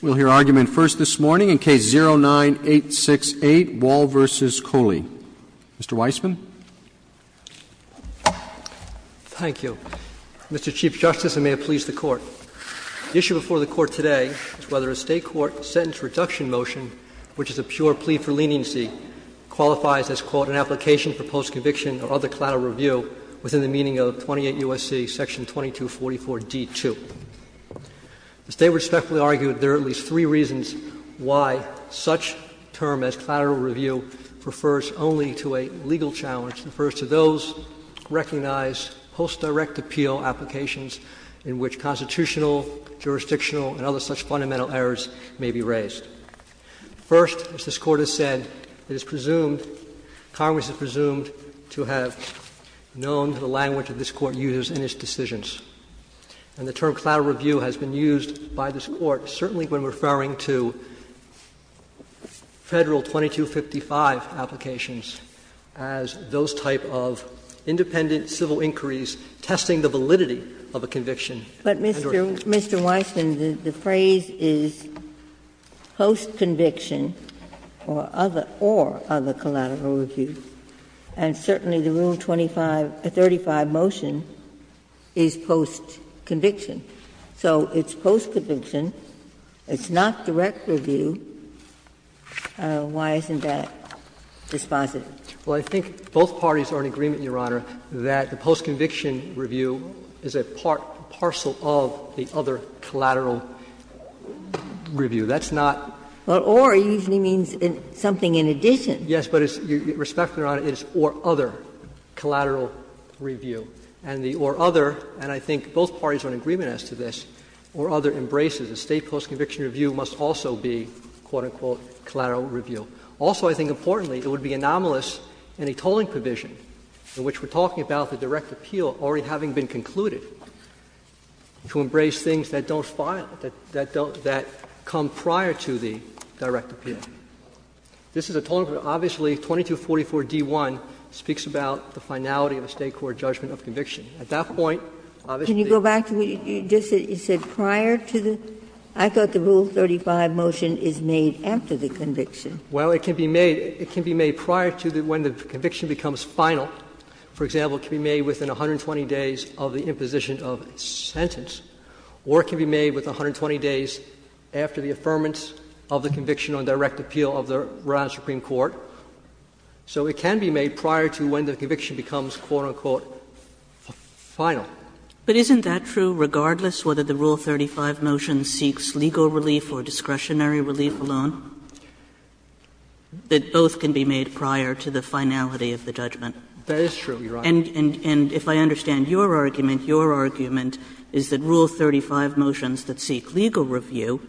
We'll hear argument first this morning in Case 09-868, Wall v. Kholi. Mr. Weissman. Thank you. Mr. Chief Justice, and may it please the Court, the issue before the Court today is whether a State court sentence reduction motion, which is a pure plea for leniency, qualifies as, quote, an application for post-conviction or other collateral review within the meaning of 28 U.S.C. Section 2244d-2. The State respectfully argued there are at least three reasons why such term as collateral review refers only to a legal challenge, refers to those recognized post-direct appeal applications in which constitutional, jurisdictional, and other such fundamental errors may be raised. First, as this Court has said, it is presumed, Congress is presumed to have known the language that this Court used in its decisions. And the term collateral review has been used by this Court, certainly when referring to Federal 2255 applications, as those type of independent civil inquiries testing the validity of a conviction. Ginsburg. But, Mr. Weissman, the phrase is post-conviction or other collateral review. And certainly the Rule 25 35 motion is post-conviction. So it's post-conviction, it's not direct review, why isn't that dispositive? Well, I think both parties are in agreement, Your Honor, that the post-conviction review is a part, a parcel of the other collateral review. That's not. But or usually means something in addition. Yes, but respectfully, Your Honor, it is or other collateral review. And the or other, and I think both parties are in agreement as to this, or other embraces. A State post-conviction review must also be, quote, unquote, collateral review. Also, I think importantly, it would be anomalous in a tolling provision in which we're talking about the direct appeal already having been concluded to embrace things that don't file, that don't, that come prior to the direct appeal. This is a tolling provision. Obviously, 2244d1 speaks about the finality of a State court judgment of conviction. At that point, obviously, the rule 35 motion is made after the conviction. Well, it can be made, it can be made prior to when the conviction becomes final. For example, it can be made within 120 days of the imposition of a sentence, or it can be made within 120 days after the affirmance of the conviction on direct appeal of the Rhode Island Supreme Court. So it can be made prior to when the conviction becomes, quote, unquote, final. But isn't that true regardless whether the Rule 35 motion seeks legal relief or discretionary relief alone? That both can be made prior to the finality of the judgment. That is true, Your Honor. And if I understand your argument, your argument is that Rule 35 motions that seek legal review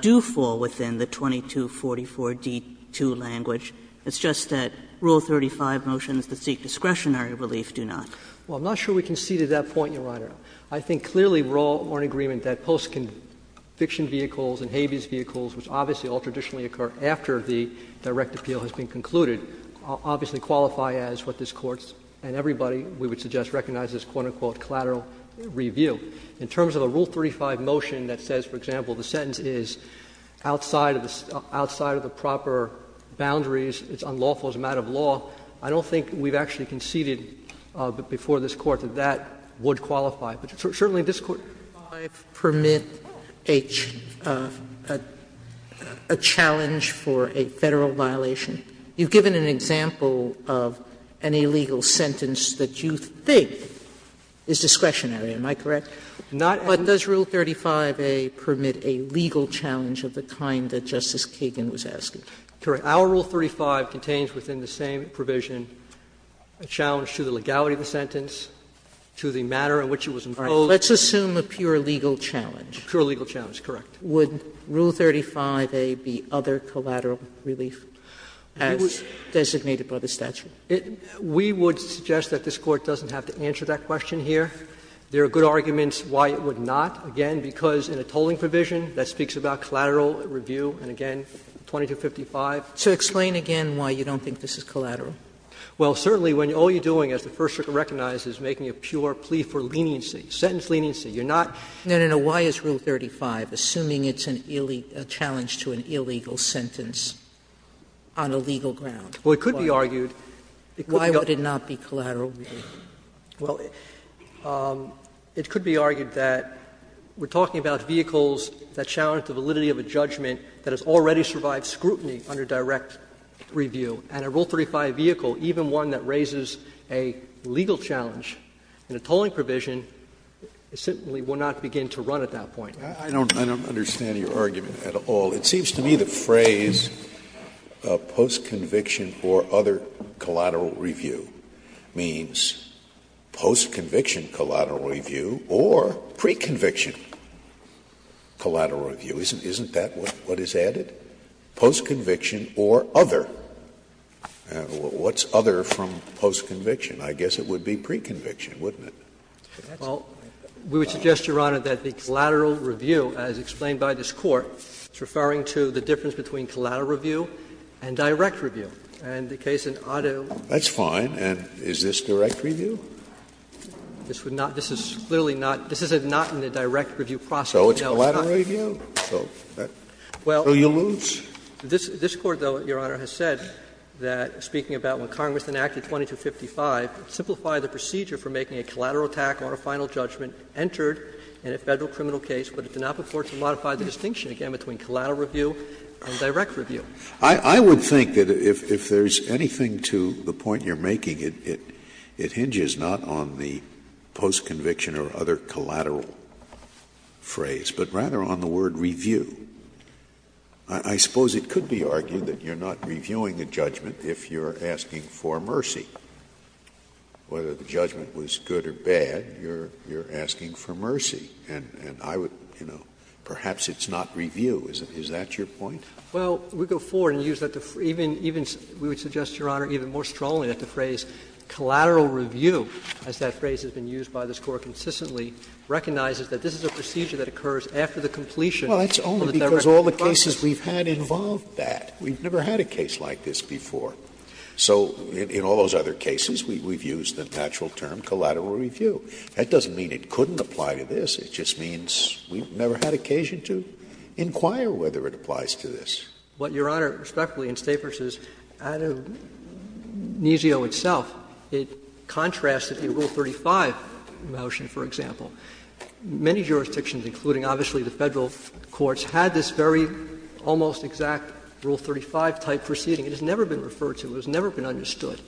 do fall within the 2244d2 language. It's just that Rule 35 motions that seek discretionary relief do not. Well, I'm not sure we can see to that point, Your Honor. I think clearly we're all in agreement that post-conviction vehicles and habeas vehicles, which obviously all traditionally occur after the direct appeal has been concluded, obviously qualify as what this Court and everybody, we would suggest, recognize as, quote, unquote, collateral review. In terms of a Rule 35 motion that says, for example, the sentence is outside of the proper boundaries, it's unlawful, it's a matter of law, I don't think we've actually conceded before this Court that that would qualify. But certainly this Court Sotomayor, does Rule 35 permit a challenge for a Federal violation? You've given an example of an illegal sentence that you think is discretionary. Am I correct? But does Rule 35a permit a legal challenge of the kind that Justice Kagan was asking? Correct. Our Rule 35 contains within the same provision a challenge to the legality of the Let's assume a pure legal challenge. A pure legal challenge, correct. Would Rule 35a be other collateral relief as designated by the statute? We would suggest that this Court doesn't have to answer that question here. There are good arguments why it would not, again, because in a tolling provision that speaks about collateral review, and again, 2255. So explain again why you don't think this is collateral. Well, certainly when all you're doing, as the First Circuit recognizes, is making a pure plea for leniency, sentence leniency. You're not No, no, no. Why is Rule 35, assuming it's a challenge to an illegal sentence, on a legal ground? Well, it could be argued. Why would it not be collateral? Well, it could be argued that we're talking about vehicles that challenge the validity of a judgment that has already survived scrutiny under direct review. And a Rule 35 vehicle, even one that raises a legal challenge in a tolling provision, simply will not begin to run at that point. I don't understand your argument at all. It seems to me the phrase, post-conviction or other collateral review, means post-conviction collateral review or pre-conviction collateral review. Isn't that what is added? Post-conviction or other. What's other from post-conviction? I guess it would be pre-conviction, wouldn't it? Well, we would suggest, Your Honor, that the collateral review, as explained by this Court, is referring to the difference between collateral review and direct review. And the case in Ottawa. That's fine. And is this direct review? This would not be. This is clearly not. This is not in the direct review process. So it's collateral review. So you lose. Well, this Court, though, Your Honor, has said that, speaking about when Congress enacted 2255, it simplified the procedure for making a collateral attack or a final judgment entered in a Federal criminal case, but it did not afford to modify the distinction, again, between collateral review and direct review. I would think that if there's anything to the point you're making, it hinges not on the post-conviction or other collateral phrase, but rather on the word review. I suppose it could be argued that you're not reviewing a judgment if you're asking for mercy. Whether the judgment was good or bad, you're asking for mercy. And I would, you know, perhaps it's not review. Is that your point? Well, we go forward and use that to even we would suggest, Your Honor, even more strongly that the phrase collateral review, as that phrase has been used by this Court consistently, recognizes that this is a procedure that occurs after the completion. Well, that's only because all the cases we've had involved that. We've never had a case like this before. So in all those other cases, we've used the natural term collateral review. That doesn't mean it couldn't apply to this. It just means we've never had occasion to inquire whether it applies to this. What Your Honor, respectfully, in Stafford says, ad amnesio itself, it contrasts with the Rule 35 motion, for example. Many jurisdictions, including obviously the Federal courts, had this very almost exact Rule 35-type proceeding. It has never been referred to. It has never been understood.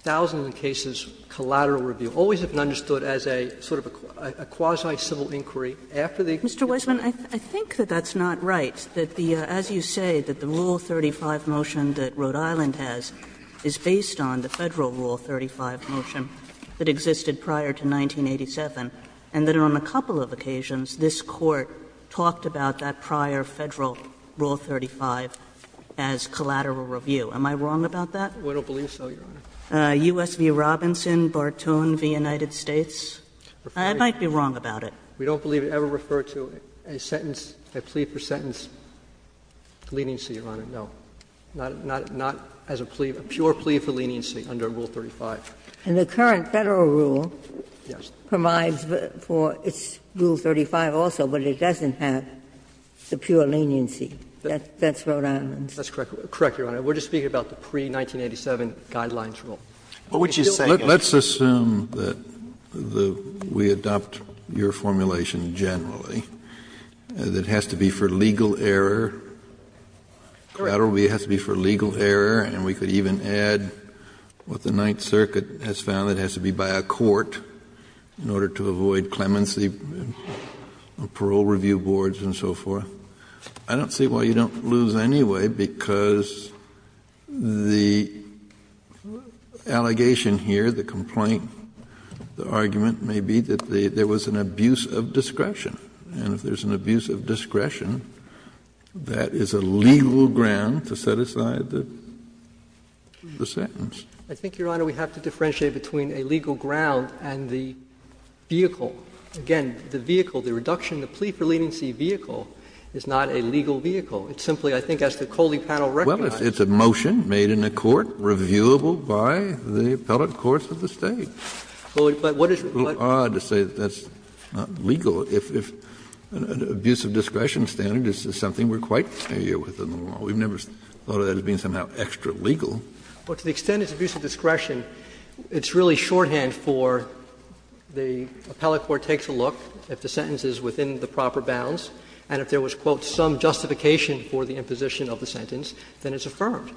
Thousands of cases, collateral review, always have been understood as a sort of a quasi civil inquiry after the execution. Mr. Weisman, I think that that's not right, that the as you say, that the Rule 35 motion that Rhode Island has is based on the Federal Rule 35 motion that existed prior to 1987, and that on a couple of occasions, this Court talked about that prior Federal Rule 35 as collateral review. Am I wrong about that? We don't believe so, Your Honor. U.S. v. Robinson, Bartoon v. United States? I might be wrong about it. We don't believe it ever referred to a sentence, a plea for sentence leniency, Your Honor, no. Not as a plea, a pure plea for leniency under Rule 35. And the current Federal rule provides for its Rule 35 also, but it doesn't have the pure leniency. That's Rhode Island. That's correct, Your Honor. We're just speaking about the pre-1987 guidelines rule. What would you say? Let's assume that we adopt your formulation generally, that it has to be for legal error, collateral review has to be for legal error, and we could even add what the Ninth Circuit has found that it has to be by a court in order to avoid clemency, parole review boards and so forth. I don't see why you don't lose anyway, because the allegation here, the complaint, the argument may be that there was an abuse of discretion. And if there's an abuse of discretion, that is a legal ground to set aside the sentence. I think, Your Honor, we have to differentiate between a legal ground and the vehicle. Again, the vehicle, the reduction, the plea for leniency vehicle is not a legal vehicle. It's simply, I think, as the Coley panel recognized. Well, it's a motion made in a court, reviewable by the appellate courts of the State. But what is the point? It's a little odd to say that that's not legal. If an abuse of discretion standard is something we're quite familiar with in the law. We've never thought of that as being somehow extra-legal. Well, to the extent it's abuse of discretion, it's really shorthand for the appellate court takes a look, if the sentence is within the proper bounds, and if there was, quote, some justification for the imposition of the sentence, then it's affirmed.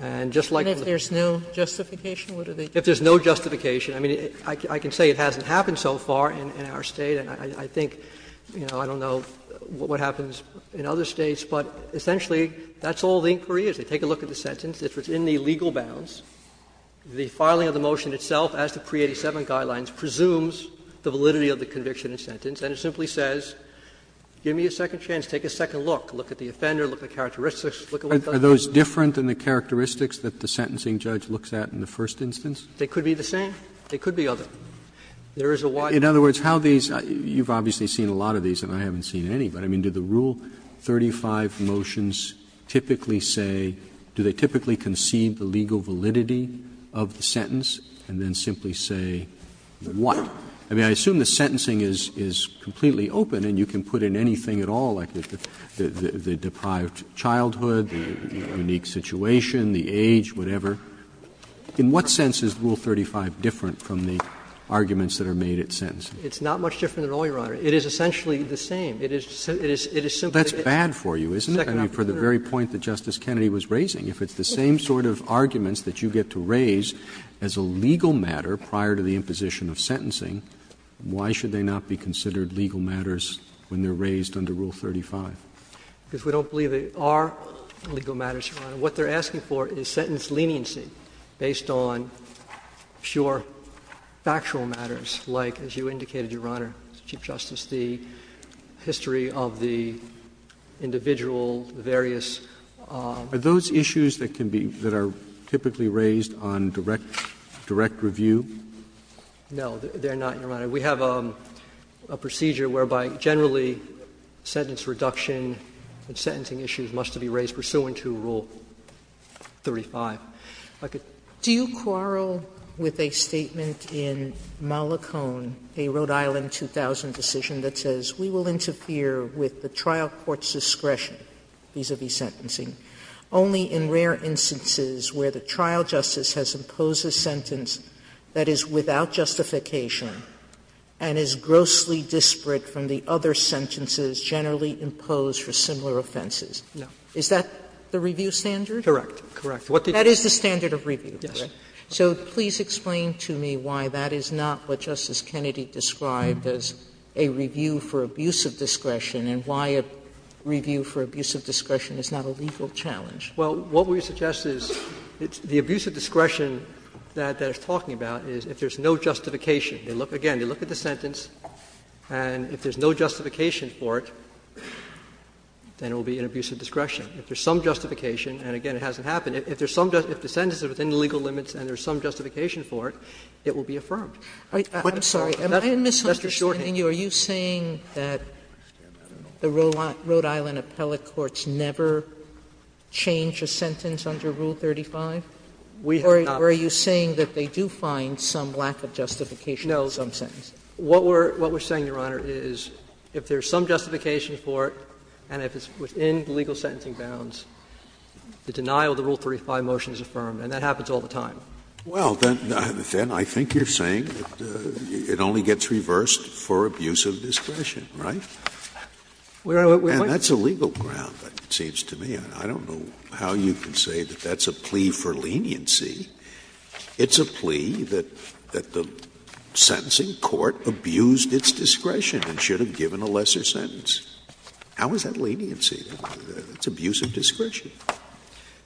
And just like in the case of the plaintiff's case, if there's no justification, I mean, I can say it hasn't happened so far in our State, and I think, you know, I don't know what happens in other States, but essentially that's all the inquiry is. They take a look at the sentence. If it's in the legal bounds, the filing of the motion itself, as to Pre-87 guidelines, presumes the validity of the conviction and sentence, and it simply says, give me a second chance, take a second look, look at the offender, look at the characteristics, look at what does it mean. Roberts. Roberts. Are those different than the characteristics that the sentencing judge looks at in the first instance? They could be the same. They could be other. There is a wide range. In other words, how these – you've obviously seen a lot of these, and I haven't seen any, but I mean, do the Rule 35 motions typically say – do they typically concede the legal validity of the sentence and then simply say what? I mean, I assume the sentencing is completely open and you can put in anything at all, like the deprived childhood, the unique situation, the age, whatever. In what sense is Rule 35 different from the arguments that are made at sentencing? It's not much different at all, Your Honor. It is essentially the same. It is simply the same. That's bad for you, isn't it? I mean, for the very point that Justice Kennedy was raising. If it's the same sort of arguments that you get to raise as a legal matter prior to the imposition of sentencing, why should they not be considered legal matters when they are raised under Rule 35? Because we don't believe they are legal matters, Your Honor. What they are asking for is sentence leniency based on sure factual matters, like, as you indicated, Your Honor, Chief Justice, the history of the individual, the various – Are those issues that can be – that are typically raised on direct review? No, they are not, Your Honor. We have a procedure whereby generally sentence reduction and sentencing issues must be raised pursuant to Rule 35. Do you quarrel with a statement in Malacone, a Rhode Island 2000 decision that says we will interfere with the trial court's discretion vis-a-vis sentencing only in rare instances where the trial justice has imposed a sentence that is without justification and is grossly disparate from the other sentences generally imposed for similar offenses? No. Is that the review standard? Correct. Correct. What did you say? That is the standard of review, correct? Yes. So please explain to me why that is not what Justice Kennedy described as a review for abuse of discretion and why a review for abuse of discretion is not a legal challenge. Well, what we suggest is the abuse of discretion that it's talking about is if there is no justification. Again, they look at the sentence, and if there is no justification for it, then it will be an abuse of discretion. If there is some justification, and again, it hasn't happened, if there is some justification, if the sentence is within the legal limits and there is some justification for it, it will be affirmed. I'm sorry. Am I misunderstanding you? Are you saying that the Rhode Island appellate courts never change a sentence under Rule 35? Or are you saying that they do find some lack of justification in some sentences? What we're saying, Your Honor, is if there is some justification for it and if it's within the legal sentencing bounds, the denial of the Rule 35 motion is affirmed, and that happens all the time. Scalia. Well, then I think you're saying that it only gets reversed for abuse of discretion, right? And that's a legal ground, it seems to me. I don't know how you can say that that's a plea for leniency. It's a plea that the sentencing court abused its discretion and should have given a lesser sentence. How is that leniency? It's abuse of discretion.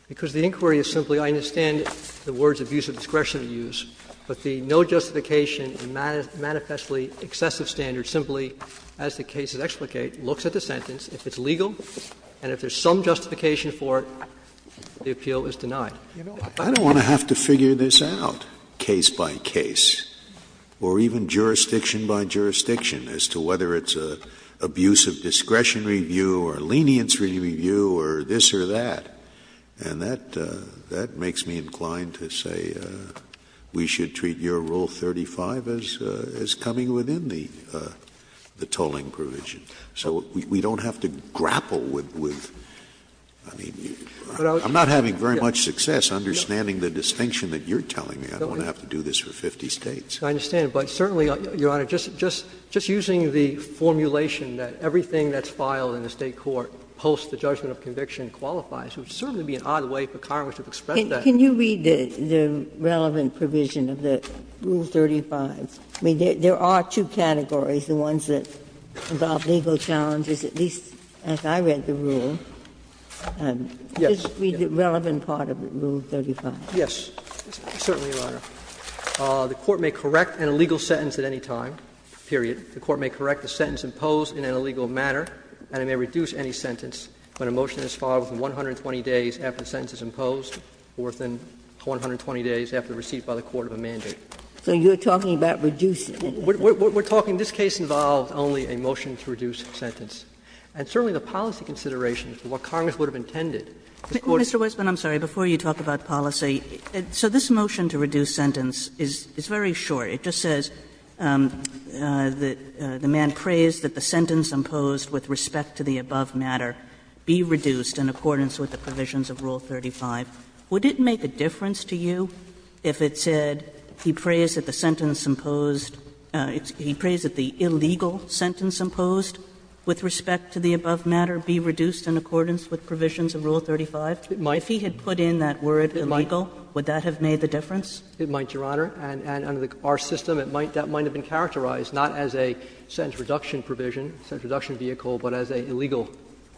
Because the inquiry is simply, I understand the words abuse of discretion are used, but the no justification and manifestly excessive standard simply, as the cases explicate, looks at the sentence, if it's legal, and if there's some justification for it, the appeal is denied. Scalia. You know, I don't want to have to figure this out case by case, or even jurisdiction by jurisdiction, as to whether it's an abuse of discretion review or leniency review or this or that. And that makes me inclined to say we should treat your Rule 35 as coming within the tolling provision. So we don't have to grapple with, I mean, I'm not having very much success understanding the distinction that you're telling me. I don't want to have to do this for 50 States. I understand. I don't want to have to do this for 50 States. And I think that the other thing that we need to be careful about is whether or not the judgment of conviction is valid and the State court, post the judgment of conviction, qualifies, which would certainly be an odd way for Congress to express that. Ginsburg. Can you read the relevant provision of the Rule 35? I mean, there are two categories, the ones that involve legal challenges, at least as I read the rule. Just read the relevant part of the Rule 35. Yes. Certainly, Your Honor. The court may correct an illegal sentence at any time, period. The court may correct the sentence imposed in an illegal manner, and it may reduce any sentence when a motion is filed within 120 days after the sentence is imposed or within 120 days after receipt by the court of a mandate. So you're talking about reducing. We're talking, this case involved only a motion to reduce sentence. And certainly the policy considerations, what Congress would have intended. Mr. Wessman, I'm sorry. Before you talk about policy, so this motion to reduce sentence is very short. It just says the man prays that the sentence imposed with respect to the above matter be reduced in accordance with the provisions of Rule 35. Would it make a difference to you if it said he prays that the sentence imposed he prays that the illegal sentence imposed with respect to the above matter be reduced in accordance with provisions of Rule 35? If he had put in that word illegal, would that have made the difference? It might, Your Honor. And under our system, it might, that might have been characterized not as a sentence reduction provision, sentence reduction vehicle, but as an illegal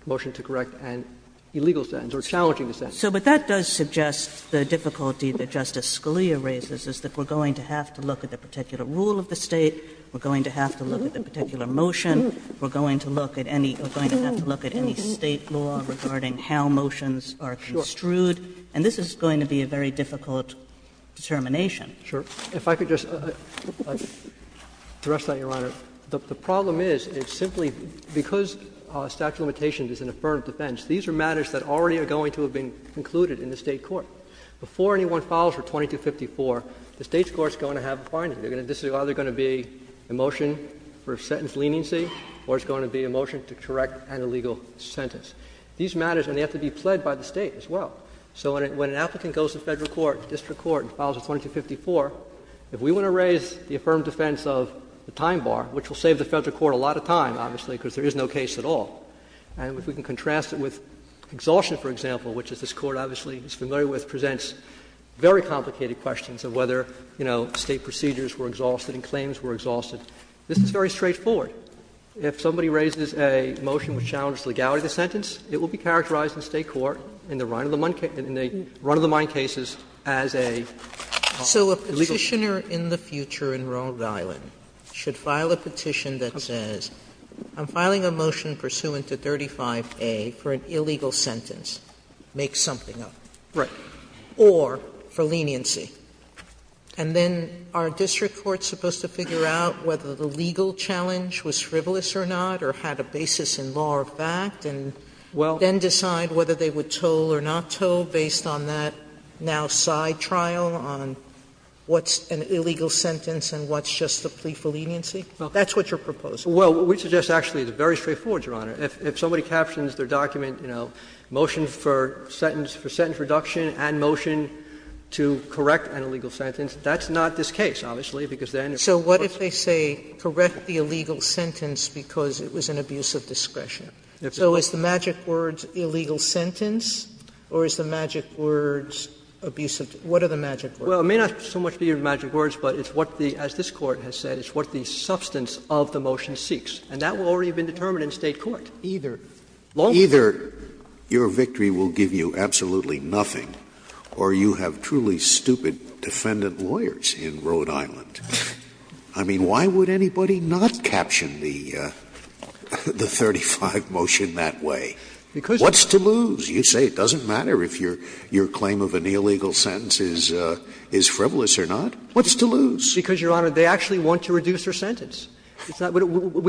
motion to correct an illegal sentence or challenging a sentence. So, but that does suggest the difficulty that Justice Scalia raises is that we're going to have to look at the particular rule of the State. We're going to have to look at the particular motion. We're going to have to look at any State law regarding how motions are construed. And this is going to be a very difficult determination. Sure. If I could just address that, Your Honor. The problem is, is simply because statute of limitations is an affirmative defense. These are matters that already are going to have been included in the State court. Before anyone files for 2254, the State's court is going to have a finding. This is either going to be a motion for a sentence leniency or it's going to be a motion to correct an illegal sentence. These matters are going to have to be pled by the State as well. So when an applicant goes to Federal court, district court, and files for 2254, if we want to raise the affirmative defense of the time bar, which will save the Federal court a lot of time, obviously, because there is no case at all, and if we can contrast it with exhaustion, for example, which this Court obviously is familiar with, presents very complicated questions of whether, you know, State procedures were exhausted and claims were exhausted. This is very straightforward. If somebody raises a motion which challenges legality of the sentence, it will be characterized in the State court in the run-of-the-mind cases as an illegal sentence. Sotomayor So a Petitioner in the future in Rhode Island should file a petition that says, I'm filing a motion pursuant to 35A for an illegal sentence. Make something up. Or for leniency. And then are district courts supposed to figure out whether the legal challenge was frivolous or not or had a basis in law or fact, and then decide whether they would toll or not toll based on that now side trial on what's an illegal sentence and what's just a plea for leniency? That's what you're proposing. Verrilli, Well, what we suggest actually is very straightforward, Your Honor. If somebody captions their document, you know, motion for sentence reduction and motion to correct an illegal sentence, that's not this case, obviously, because then it's not a legal sentence. Sotomayor So what if they say correct the illegal sentence because it was an abuse of discretion? So is the magic words illegal sentence or is the magic words abuse of discretion? What are the magic words? Verrilli, Well, it may not so much be the magic words, but it's what the — as this substance of the motion seeks. And that will already have been determined in State court, either lawfully or not. Scalia Either your victory will give you absolutely nothing or you have truly stupid defendant lawyers in Rhode Island. I mean, why would anybody not caption the 35 motion that way? What's to lose? You say it doesn't matter if your claim of an illegal sentence is frivolous or not. What's to lose? Verrilli, Because, Your Honor, they actually want to reduce their sentence. It's not — we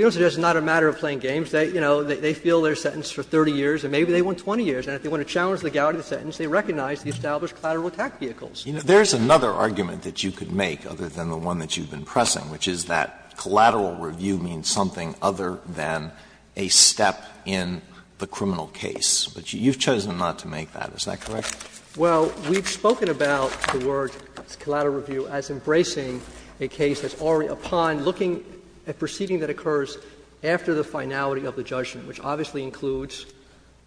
don't say it's not a matter of playing games. They, you know, they feel their sentence for 30 years and maybe they want 20 years. And if they want to challenge the legality of the sentence, they recognize the established collateral attack vehicles. Alito There is another argument that you could make, other than the one that you've been pressing, which is that collateral review means something other than a step in the criminal case. But you've chosen not to make that, is that correct? Verrilli, Well, we've spoken about the word collateral review as embracing a case that's already upon looking at proceeding that occurs after the finality of the judgment, which obviously includes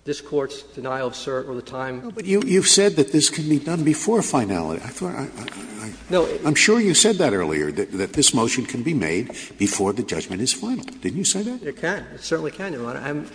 this Court's denial of cert or the time. Scalia But you've said that this can be done before finality. I thought I — I'm sure you said that earlier, that this motion can be made before the judgment is final. Didn't you say that? Verrilli, It can. It certainly can, Your Honor.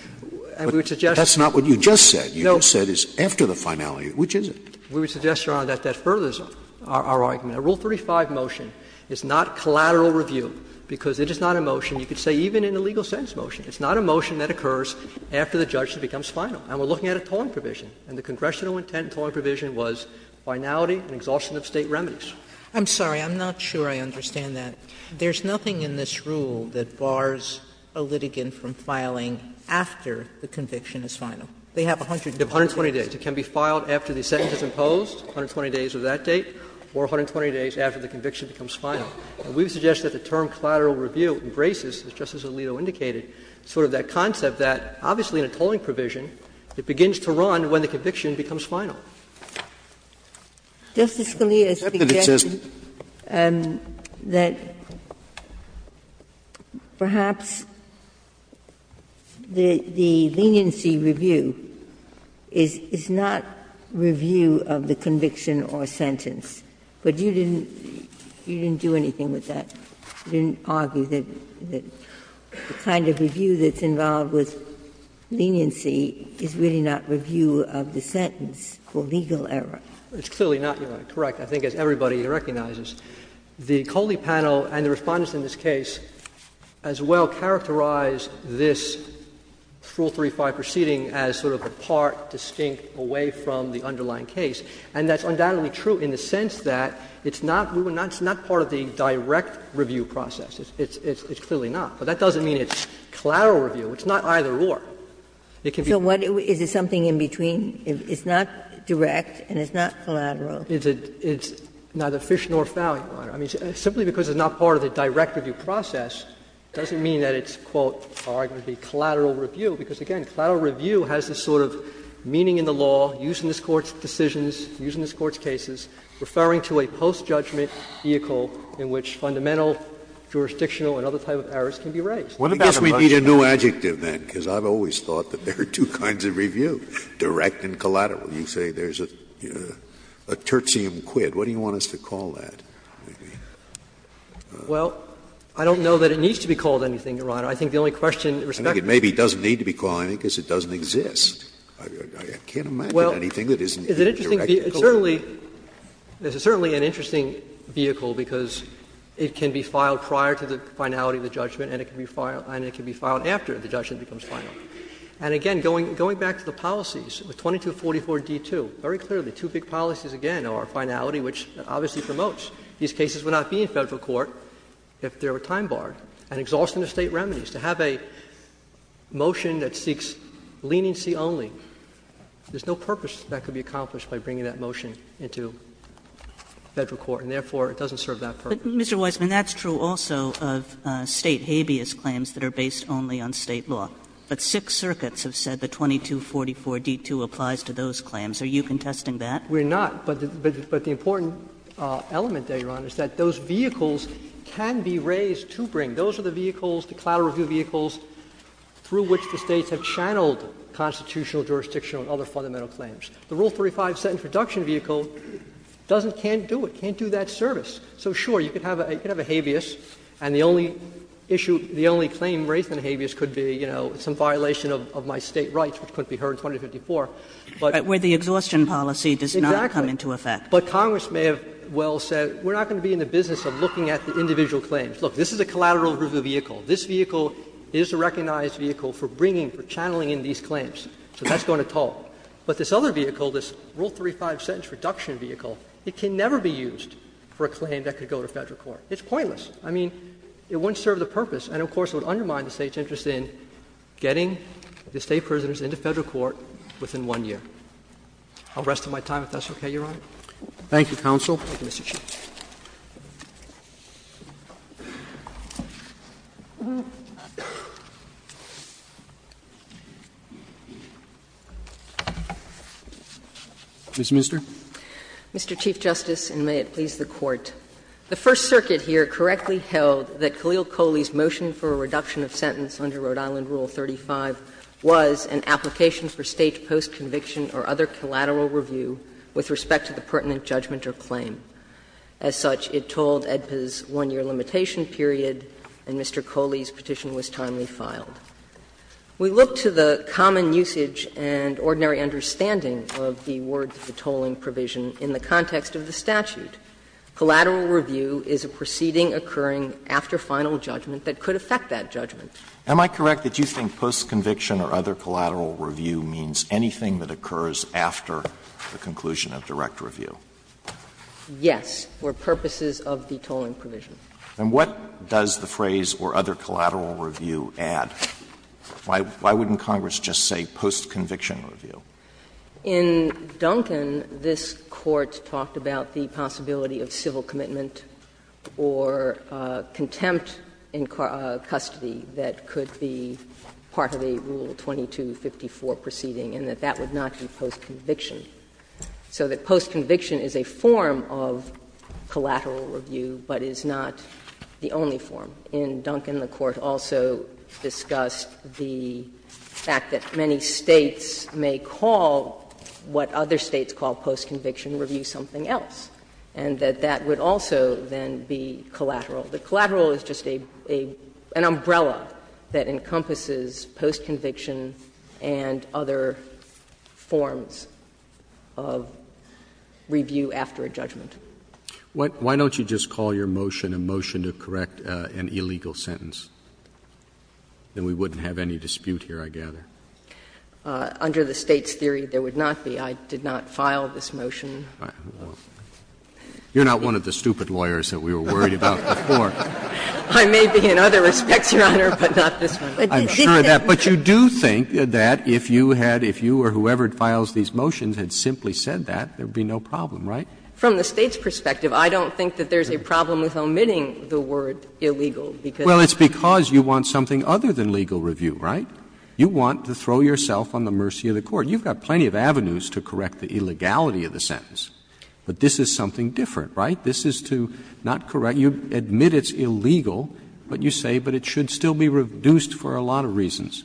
And we would suggest that. Scalia But that's not what you just said. Verrilli, No. Scalia You just said it's after the finality. Which is it? Verrilli, We would suggest, Your Honor, that that furthers our argument. A Rule 35 motion is not collateral review, because it is not a motion, you could say even in a legal sentence motion. It's not a motion that occurs after the judge becomes final. And we're looking at a tolling provision. And the congressional intent tolling provision was finality and exhaustion of State remedies. Sotomayor I'm sorry. I'm not sure I understand that. There's nothing in this rule that bars a litigant from filing after the conviction is final. They have 120 days. Verrilli, They have 120 days. It can be filed after the sentence is imposed, 120 days of that date, or 120 days after the conviction becomes final. And we would suggest that the term collateral review embraces, as Justice Alito indicated, sort of that concept that, obviously in a tolling provision, it begins to run when the conviction becomes final. Justice Scalia suggested that perhaps the leniency review is not review of the conviction or sentence. But you didn't do anything with that. You didn't argue that the kind of review that's involved with leniency is really not review of the sentence for legal error. Verrilli, It's clearly not, Your Honor. Correct. I think as everybody recognizes, the Coley panel and the Respondents in this case as well characterize this Rule 35 proceeding as sort of apart, distinct, away from the underlying case. And that's undoubtedly true in the sense that it's not part of the direct review process. It's clearly not. But that doesn't mean it's collateral review. It's not either or. It can be. So what is it, something in between? It's not direct and it's not collateral. It's neither fish nor fowl, Your Honor. I mean, simply because it's not part of the direct review process doesn't mean that it's, quote, arguably collateral review, because, again, collateral review has this sort of meaning in the law, used in this Court's decisions, used in this Court's cases, referring to a post-judgment vehicle in which fundamental jurisdictional and other type of errors can be raised. Scalia. I guess we need a new adjective then, because I've always thought that there are two kinds of review, direct and collateral. You say there's a tertium quid. What do you want us to call that? Well, I don't know that it needs to be called anything, Your Honor. I think the only question with respect to it is that it doesn't need to be called anything because it doesn't exist. I can't imagine anything that isn't a direct review. Well, it's certainly an interesting vehicle because it can be filed prior to the finality of the judgment and it can be filed after the judgment becomes final. And, again, going back to the policies, with 2244d2, very clearly, two big policies again are finality, which obviously promotes these cases would not be in Federal court if they were time-barred, and exhaustion of State remedies. To have a motion that seeks leniency only, there's no purpose that could be accomplished by bringing that motion into Federal court, and therefore it doesn't serve that purpose. But, Mr. Weisman, that's true also of State habeas claims that are based only on State law. But Sixth Circuit has said that 2244d2 applies to those claims. Are you contesting that? We're not. But the important element there, Your Honor, is that those vehicles can be raised to bring. Those are the vehicles, the collateral review vehicles, through which the States have channeled constitutional, jurisdictional, and other fundamental claims. The Rule 35 set-in-production vehicle doesn't can't do it, can't do that service. So, sure, you could have a habeas, and the only issue, the only claim raised in a habeas could be, you know, some violation of my State rights, which couldn't be heard in 2254, but. But Congress may have well said, we're not going to be in the business of looking at the individual claims. Look, this is a collateral review vehicle. This vehicle is a recognized vehicle for bringing, for channeling in these claims. So that's going to talk. But this other vehicle, this Rule 35 set-in-production vehicle, it can never be used for a claim that could go to Federal court. It's pointless. I mean, it wouldn't serve the purpose, and, of course, it would undermine the State's interest in getting the State prisoners into Federal court within one year. I'll rest my time if that's okay, Your Honor. Thank you, counsel. Thank you, Mr. Chief. Ms. Minster. Mr. Chief Justice, and may it please the Court. The First Circuit here correctly held that Khalil Coley's motion for a reduction of sentence under Rhode Island Rule 35 was an application for State post-conviction or other collateral review with respect to the pertinent judgment or claim. As such, it tolled AEDPA's one-year limitation period, and Mr. Coley's petition was timely filed. We look to the common usage and ordinary understanding of the word ''detoling provision'' in the context of the statute. Collateral review is a proceeding occurring after final judgment that could affect that judgment. Am I correct that you think post-conviction or other collateral review means anything that occurs after the conclusion of direct review? Yes, for purposes of detoling provision. And what does the phrase ''or other collateral review'' add? Why wouldn't Congress just say post-conviction review? In Duncan, this Court talked about the possibility of civil commitment or contempt in custody that could be part of the Rule 2254 proceeding, and that that would not be post-conviction, so that post-conviction is a form of collateral review but is not the only form. In Duncan, the Court also discussed the fact that many States may call what other States call post-conviction review something else, and that that would also then be collateral. The collateral is just an umbrella that encompasses post-conviction and other forms of review after a judgment. Why don't you just call your motion a motion to correct an illegal sentence? Then we wouldn't have any dispute here, I gather. Under the State's theory, there would not be. I did not file this motion. You're not one of the stupid lawyers that we were worried about before. I may be in other respects, Your Honor, but not this one. I'm sure of that. But you do think that if you had, if you or whoever files these motions had simply said that, there would be no problem, right? From the State's perspective, I don't think that there's a problem with omitting the word illegal, because of the statute. Well, it's because you want something other than legal review, right? You want to throw yourself on the mercy of the Court. You've got plenty of avenues to correct the illegality of the sentence. But this is something different, right? This is to not correct. You admit it's illegal, but you say, but it should still be reduced for a lot of reasons.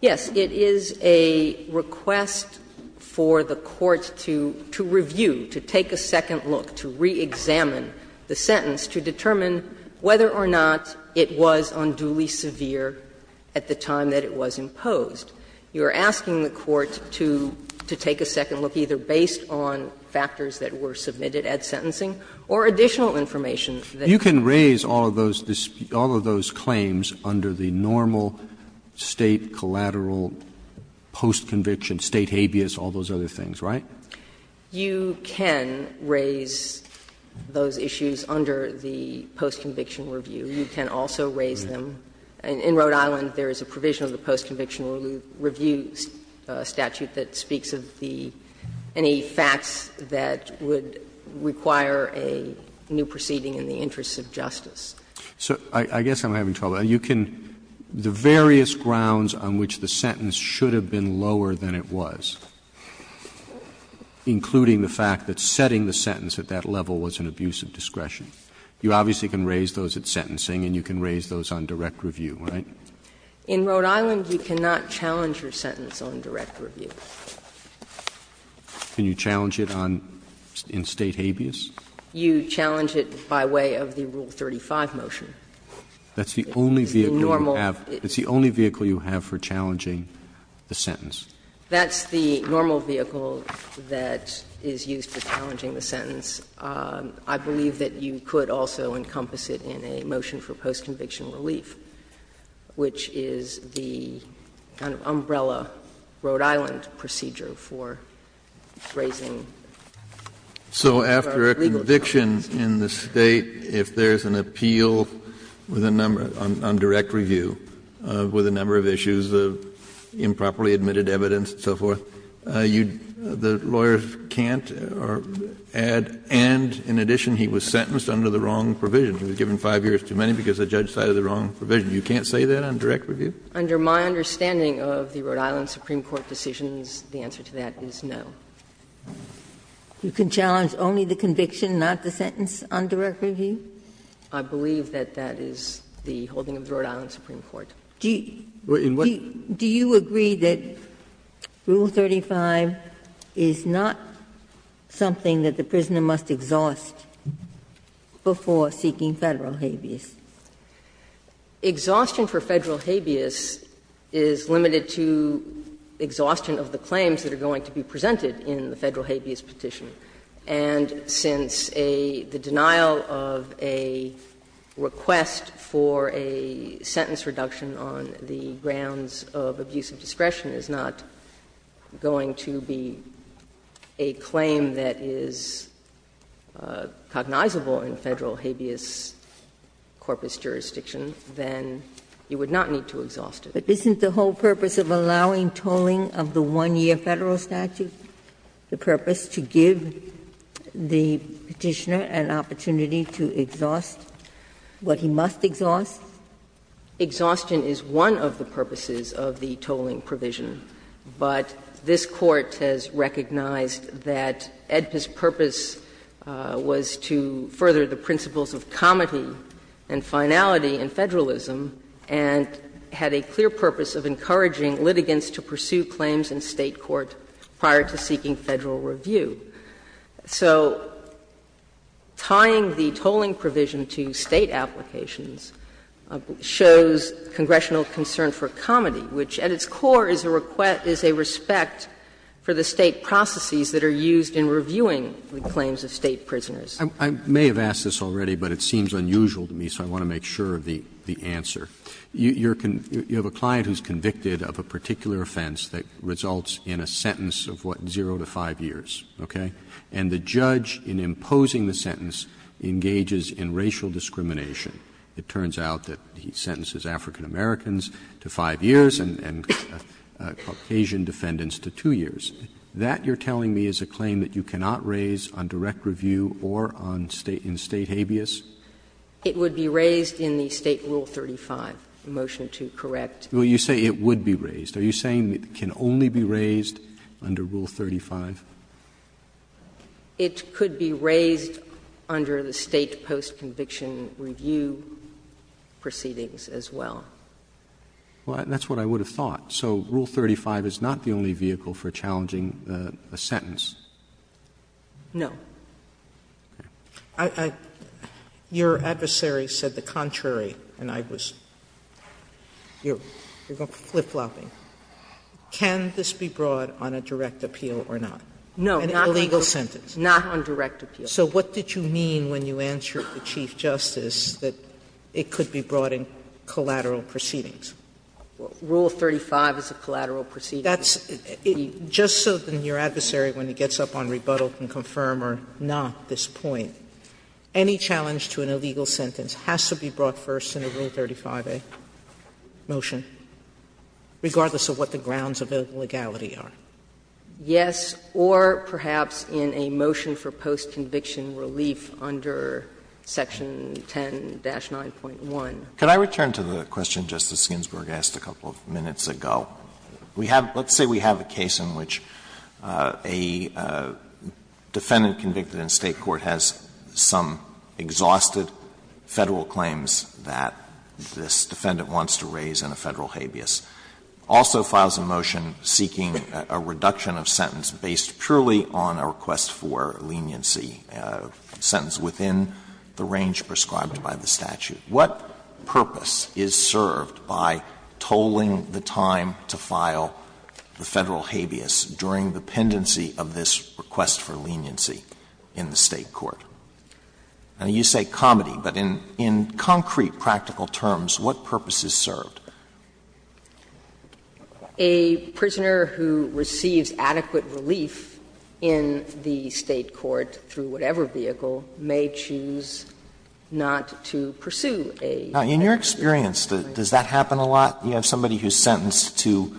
Yes. It is a request for the Court to review, to take a second look, to reexamine the sentence to determine whether or not it was unduly severe at the time that it was imposed. You're asking the Court to take a second look, either based on factors that were submitted at sentencing or additional information that was submitted. So you can raise all of those claims under the normal State collateral post-conviction, State habeas, all those other things, right? You can raise those issues under the post-conviction review. You can also raise them. In Rhode Island, there is a provision of the post-conviction review statute that requires the State to review the sentence in order to determine whether or not it was an abuse of justice. Roberts. I guess I'm having trouble. You can the various grounds on which the sentence should have been lower than it was, including the fact that setting the sentence at that level was an abuse of discretion. You obviously can raise those at sentencing, and you can raise those on direct review, right? In Rhode Island, you cannot challenge your sentence on direct review. Can you challenge it on State habeas? You challenge it by way of the Rule 35 motion. That's the only vehicle you have for challenging the sentence. That's the normal vehicle that is used for challenging the sentence. I believe that you could also encompass it in a motion for post-conviction relief, which is the kind of umbrella Rhode Island procedure for raising our legal charge. Kennedy. So after a conviction in the State, if there is an appeal with a number, on direct review, with a number of issues of improperly admitted evidence and so forth, the lawyer can't add, and in addition, he was sentenced under the wrong provision. He was given 5 years too many because the judge cited the wrong provision. You can't say that on direct review? Under my understanding of the Rhode Island Supreme Court decisions, the answer to that is no. You can challenge only the conviction, not the sentence, on direct review? I believe that that is the holding of the Rhode Island Supreme Court. Do you agree that Rule 35 is not something that the prisoner must exhaust before seeking Federal habeas? Exhaustion for Federal habeas is limited to exhaustion of the claims that are going to be presented in the Federal habeas petition. And since a — the denial of a request for a sentence reduction on the grounds of abusive discretion is not going to be a claim that is cognizable in Federal habeas corpus jurisdiction, then you would not need to exhaust it. But isn't the whole purpose of allowing tolling of the 1-year Federal statute the purpose to give the Petitioner an opportunity to exhaust what he must exhaust? Exhaustion is one of the purposes of the tolling provision, but this Court has recognized that AEDPA's purpose was to further the principles of comity and finality in Federalism and had a clear purpose of encouraging litigants to pursue claims in State court prior to seeking Federal review. So tying the tolling provision to State applications shows congressional concern for comity, which at its core is a request — is a respect for the State processes that are used in reviewing the claims of State prisoners. Roberts, I may have asked this already, but it seems unusual to me, so I want to make sure of the answer. You have a client who is convicted of a particular offense that results in a sentence of what, zero to 5 years, okay? And the judge, in imposing the sentence, engages in racial discrimination. It turns out that he sentences African-Americans to 5 years and Caucasian defendants to 2 years. That, you're telling me, is a claim that you cannot raise on direct review or on State — in State habeas? It would be raised in the State Rule 35, the motion to correct. Well, you say it would be raised. Are you saying it can only be raised under Rule 35? It could be raised under the State post-conviction review proceedings as well. Well, that's what I would have thought. So Rule 35 is not the only vehicle for challenging a sentence? No. Your adversary said the contrary, and I was — you're flip-flopping. Can this be brought on a direct appeal or not? No. An illegal sentence. Not on direct appeal. So what did you mean when you answered the Chief Justice that it could be brought in collateral proceedings? Rule 35 is a collateral proceedings. That's — just so then your adversary, when he gets up on rebuttal, can confirm or not this point, any challenge to an illegal sentence has to be brought first in a Rule 35A motion, regardless of what the grounds of illegality are? Yes, or perhaps in a motion for post-conviction relief under Section 10-9.1. Could I return to the question Justice Ginsburg asked a couple of minutes ago? We have — let's say we have a case in which a defendant convicted in State court has some exhausted Federal claims that this defendant wants to raise in a Federal habeas, also files a motion seeking a reduction of sentence based purely on a request for leniency, a sentence within the range prescribed by the statute. What purpose is served by tolling the time to file the Federal habeas during the pendency of this request for leniency in the State court? I know you say comity, but in concrete practical terms, what purpose is served? A prisoner who receives adequate relief in the State court through whatever vehicle may choose not to pursue a Federal habeas? Now, in your experience, does that happen a lot? You have somebody who is sentenced to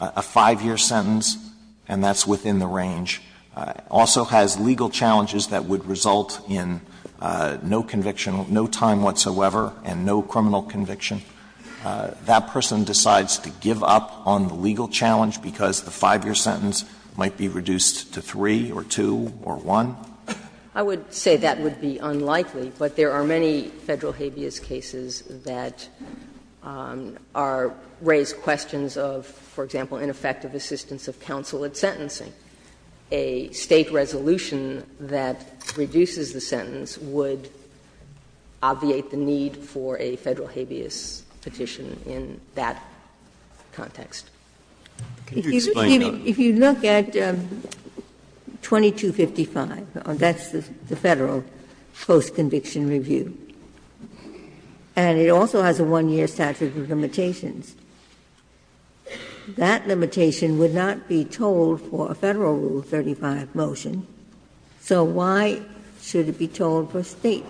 a 5-year sentence, and that's within the range. Also has legal challenges that would result in no conviction, no time whatsoever, and no criminal conviction. That person decides to give up on the legal challenge because the 5-year sentence might be reduced to 3 or 2 or 1? I would say that would be unlikely, but there are many Federal habeas cases that are raised questions of, for example, ineffective assistance of counsel at sentencing. A State resolution that reduces the sentence would obviate the need for a Federal habeas petition in that context. If you look at 2255, that's the Federal post-conviction review, and it also has a 1-year statute of limitations, that limitation would not be told for a Federal Rule 35 motion. So why should it be told for State?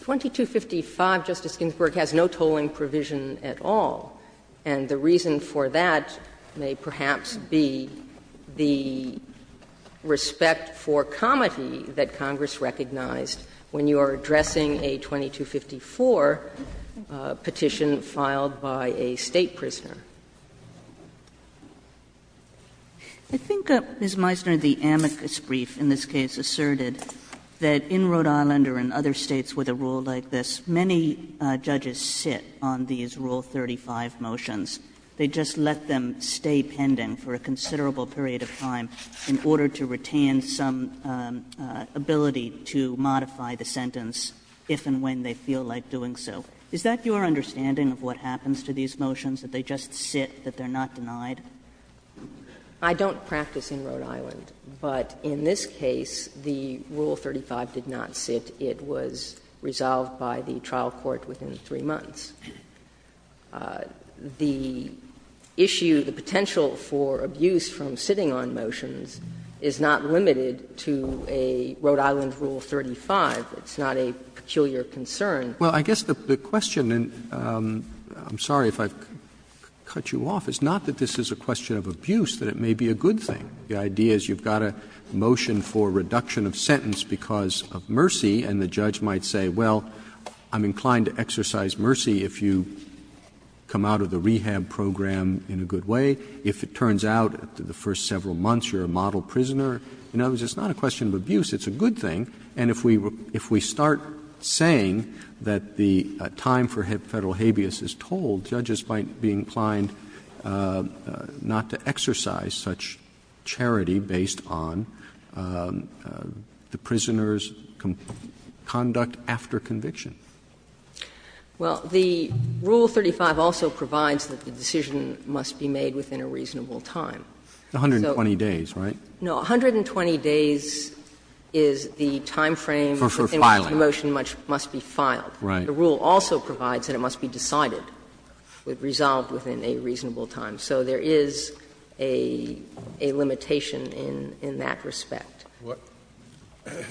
2255, Justice Ginsburg, has no tolling provision at all, and the reason for that may perhaps be the respect for comity that Congress recognized when you are addressing a 2254 petition filed by a State prisoner. Kagan. Kagan. Kagan. I think, Ms. Meisner, the amicus brief in this case asserted that in Rhode Island or in other States with a rule like this, many judges sit on these Rule 35 motions. They just let them stay pending for a considerable period of time in order to retain some ability to modify the sentence if and when they feel like doing so. Is that your understanding of what happens to these motions, that they just sit, that they are not denied? I don't practice in Rhode Island, but in this case, the Rule 35 did not sit. It was resolved by the trial court within 3 months. The issue, the potential for abuse from sitting on motions is not limited to a Rhode Island Rule 35. It's not a peculiar concern. Well, I guess the question, and I'm sorry if I've cut you off, is not that this is a question of abuse, that it may be a good thing. The idea is you've got a motion for reduction of sentence because of mercy, and the judge might say, well, I'm inclined to exercise mercy if you come out of the rehab program in a good way. If it turns out after the first several months you're a model prisoner, in other words, it's not a question of abuse. It's a good thing. And if we start saying that the time for Federal habeas is told, judges might be inclined not to exercise such charity based on the prisoner's conduct after conviction. Well, the Rule 35 also provides that the decision must be made within a reasonable time. 120 days, right? No. 120 days is the time frame for when the motion must be filed. Right. The rule also provides that it must be decided, resolved within a reasonable time. So there is a limitation in that respect. Do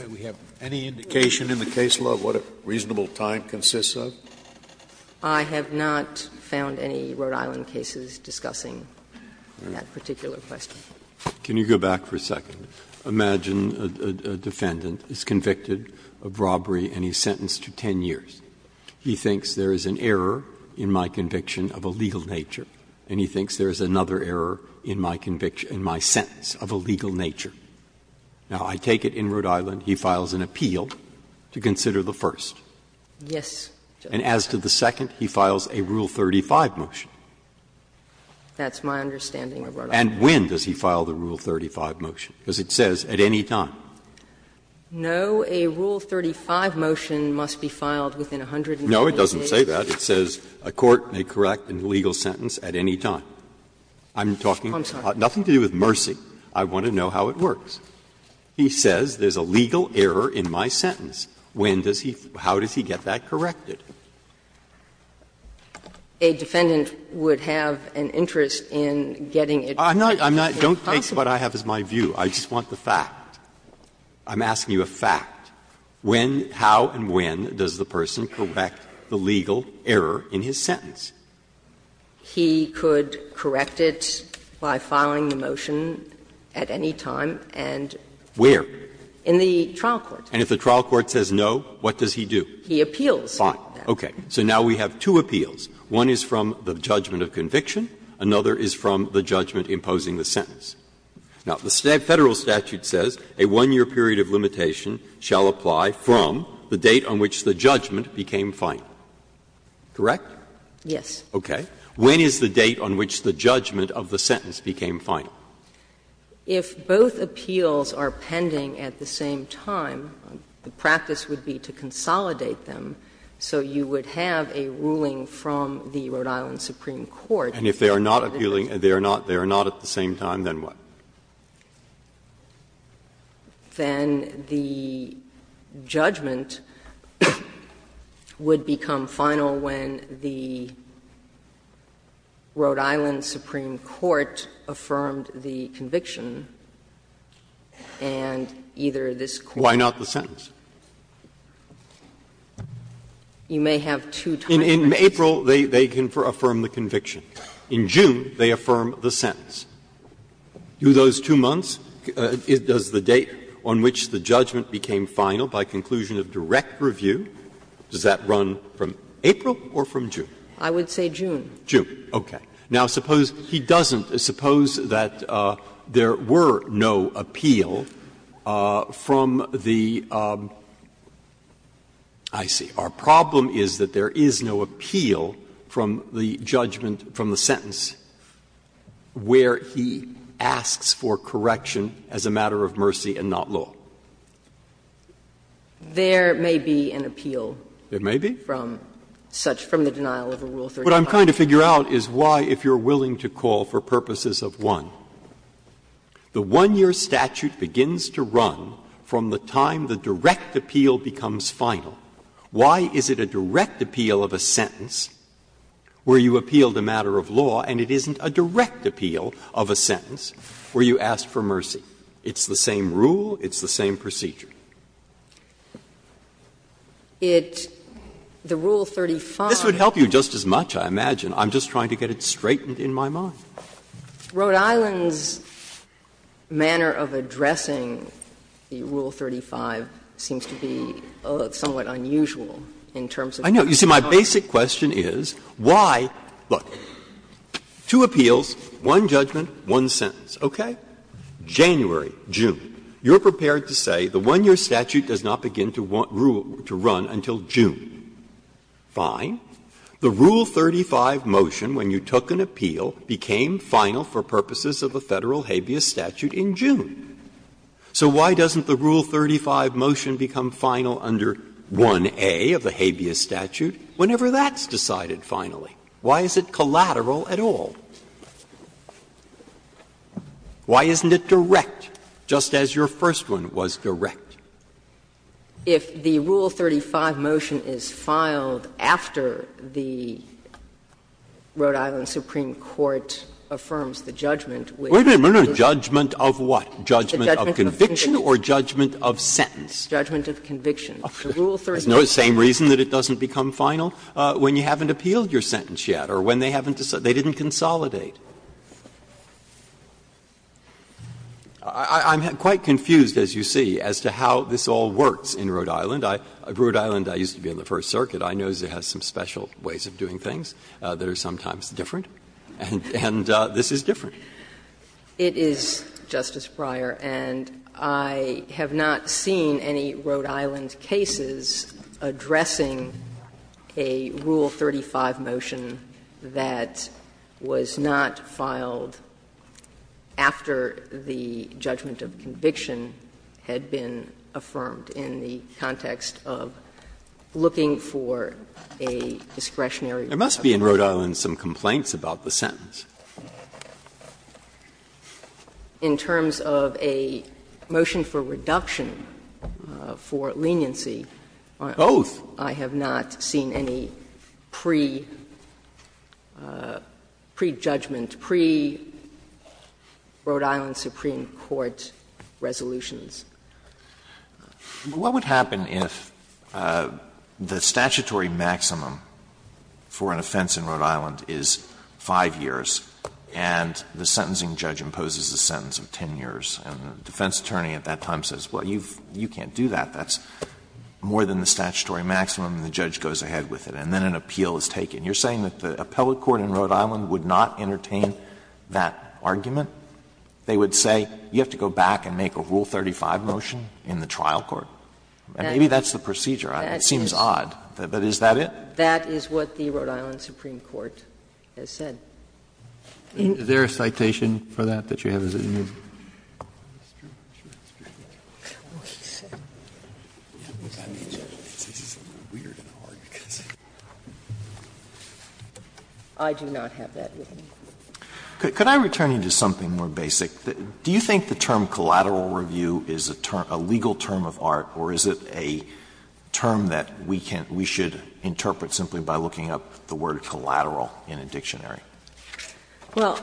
we have any indication in the case law of what a reasonable time consists of? I have not found any Rhode Island cases discussing that particular question. Can you go back for a second? Imagine a defendant is convicted of robbery and he's sentenced to 10 years. He thinks there is an error in my conviction of a legal nature, and he thinks there is another error in my conviction, in my sentence of a legal nature. Now, I take it in Rhode Island he files an appeal to consider the first. Yes. And as to the second, he files a Rule 35 motion. That's my understanding of Rhode Island. And when does he file the Rule 35 motion? Because it says at any time. No, a Rule 35 motion must be filed within 120 days. No, it doesn't say that. It says a court may correct a legal sentence at any time. I'm talking about nothing to do with mercy. I want to know how it works. He says there is a legal error in my sentence. When does he get that corrected? A defendant would have an interest in getting it corrected. I'm not going to take what I have as my view. I just want the fact. I'm asking you a fact. When, how, and when does the person correct the legal error in his sentence? He could correct it by filing the motion at any time and in the trial court. And if the trial court says no, what does he do? He appeals. Fine. Okay. So now we have two appeals. One is from the judgment of conviction. Another is from the judgment imposing the sentence. Now, the Federal statute says a 1-year period of limitation shall apply from the date on which the judgment became final. Correct? Yes. Okay. When is the date on which the judgment of the sentence became final? If both appeals are pending at the same time, the practice would be to consolidate them, so you would have a ruling from the Rhode Island Supreme Court. And if they are not appealing, they are not at the same time, then what? Then the judgment would become final when the Rhode Island Supreme Court affirmed the conviction and either this court. Why not the sentence? You may have two times. In April, they affirm the conviction. In June, they affirm the sentence. Do those two months, does the date on which the judgment became final by conclusion of direct review, does that run from April or from June? I would say June. June. Okay. Now, suppose he doesn't, suppose that there were no appeal from the – I see. Our problem is that there is no appeal from the judgment, from the sentence, where he asks for correction as a matter of mercy and not law. There may be an appeal. There may be. From such – from the denial of a Rule 35. What I'm trying to figure out is why, if you're willing to call for purposes of one, the 1-year statute begins to run from the time the direct appeal becomes final. Why is it a direct appeal of a sentence where you appealed a matter of law and it isn't a direct appeal of a sentence where you asked for mercy? It's the same rule. It's the same procedure. It – the Rule 35. This would help you just as much, I imagine. I'm just trying to get it straightened in my mind. Rhode Island's manner of addressing the Rule 35 seems to be somewhat unusual in terms of how it's done. I know. You see, my basic question is why – look, two appeals, one judgment, one sentence. Okay? January, June. You're prepared to say the 1-year statute does not begin to run until June. Fine. The Rule 35 motion, when you took an appeal, became final for purposes of the Federal habeas statute in June. So why doesn't the Rule 35 motion become final under 1a of the habeas statute whenever that's decided finally? Why is it collateral at all? Why isn't it direct, just as your first one was direct? If the Rule 35 motion is filed after the Rhode Island Supreme Court affirms the judgment, which is the judgment of conviction. Judgment of conviction. Judgment of conviction. The Rule 35. It's the same reason that it doesn't become final when you haven't appealed your sentence yet or when they haven't decided. They didn't consolidate. I'm quite confused, as you see, as to how this all works in Rhode Island. Rhode Island, I used to be on the First Circuit. I know it has some special ways of doing things that are sometimes different. And this is different. It is, Justice Breyer, and I have not seen any Rhode Island cases addressing a Rule 35 motion that was not filed after the judgment of conviction had been affirmed in the context of looking for a discretionary judgment. There must be in Rhode Island some complaints about the sentence. In terms of a motion for reduction for leniency, I have not seen any. Both. I have not seen any pre-judgment, pre-Rhode Island Supreme Court resolutions. Alito, what would happen if the statutory maximum for an offense in Rhode Island is 5 years and the sentencing judge imposes a sentence of 10 years and the defense attorney at that time says, well, you can't do that, that's more than the statutory maximum, and the judge goes ahead with it, and then an appeal is taken? You're saying that the appellate court in Rhode Island would not entertain that argument? They would say, you have to go back and make a Rule 35 motion in the trial court. Maybe that's the procedure. It seems odd. But is that it? That is what the Rhode Island Supreme Court has said. Is there a citation for that that you have? I do not have that with me. Alito, could I return you to something more basic? Do you think the term collateral review is a term, a legal term of art, or is it a term that we should interpret simply by looking up the word collateral in a dictionary? Well,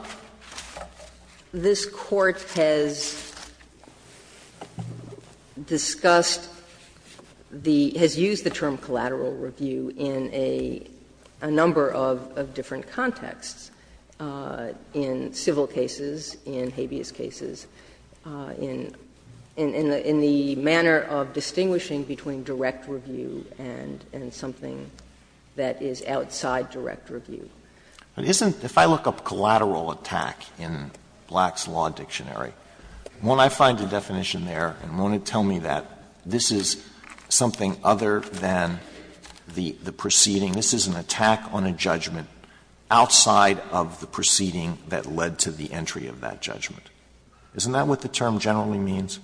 this Court has discussed the — has used the term collateral review in a number of different contexts, in civil cases, in habeas cases, in the manner of distinguishing between direct review and something that is outside direct review. But isn't — if I look up collateral attack in Black's Law Dictionary, won't I find a definition there, and won't it tell me that this is something other than the proceeding, this is an attack on a judgment outside of the proceeding that led to the entry of that judgment? Isn't that what the term generally means?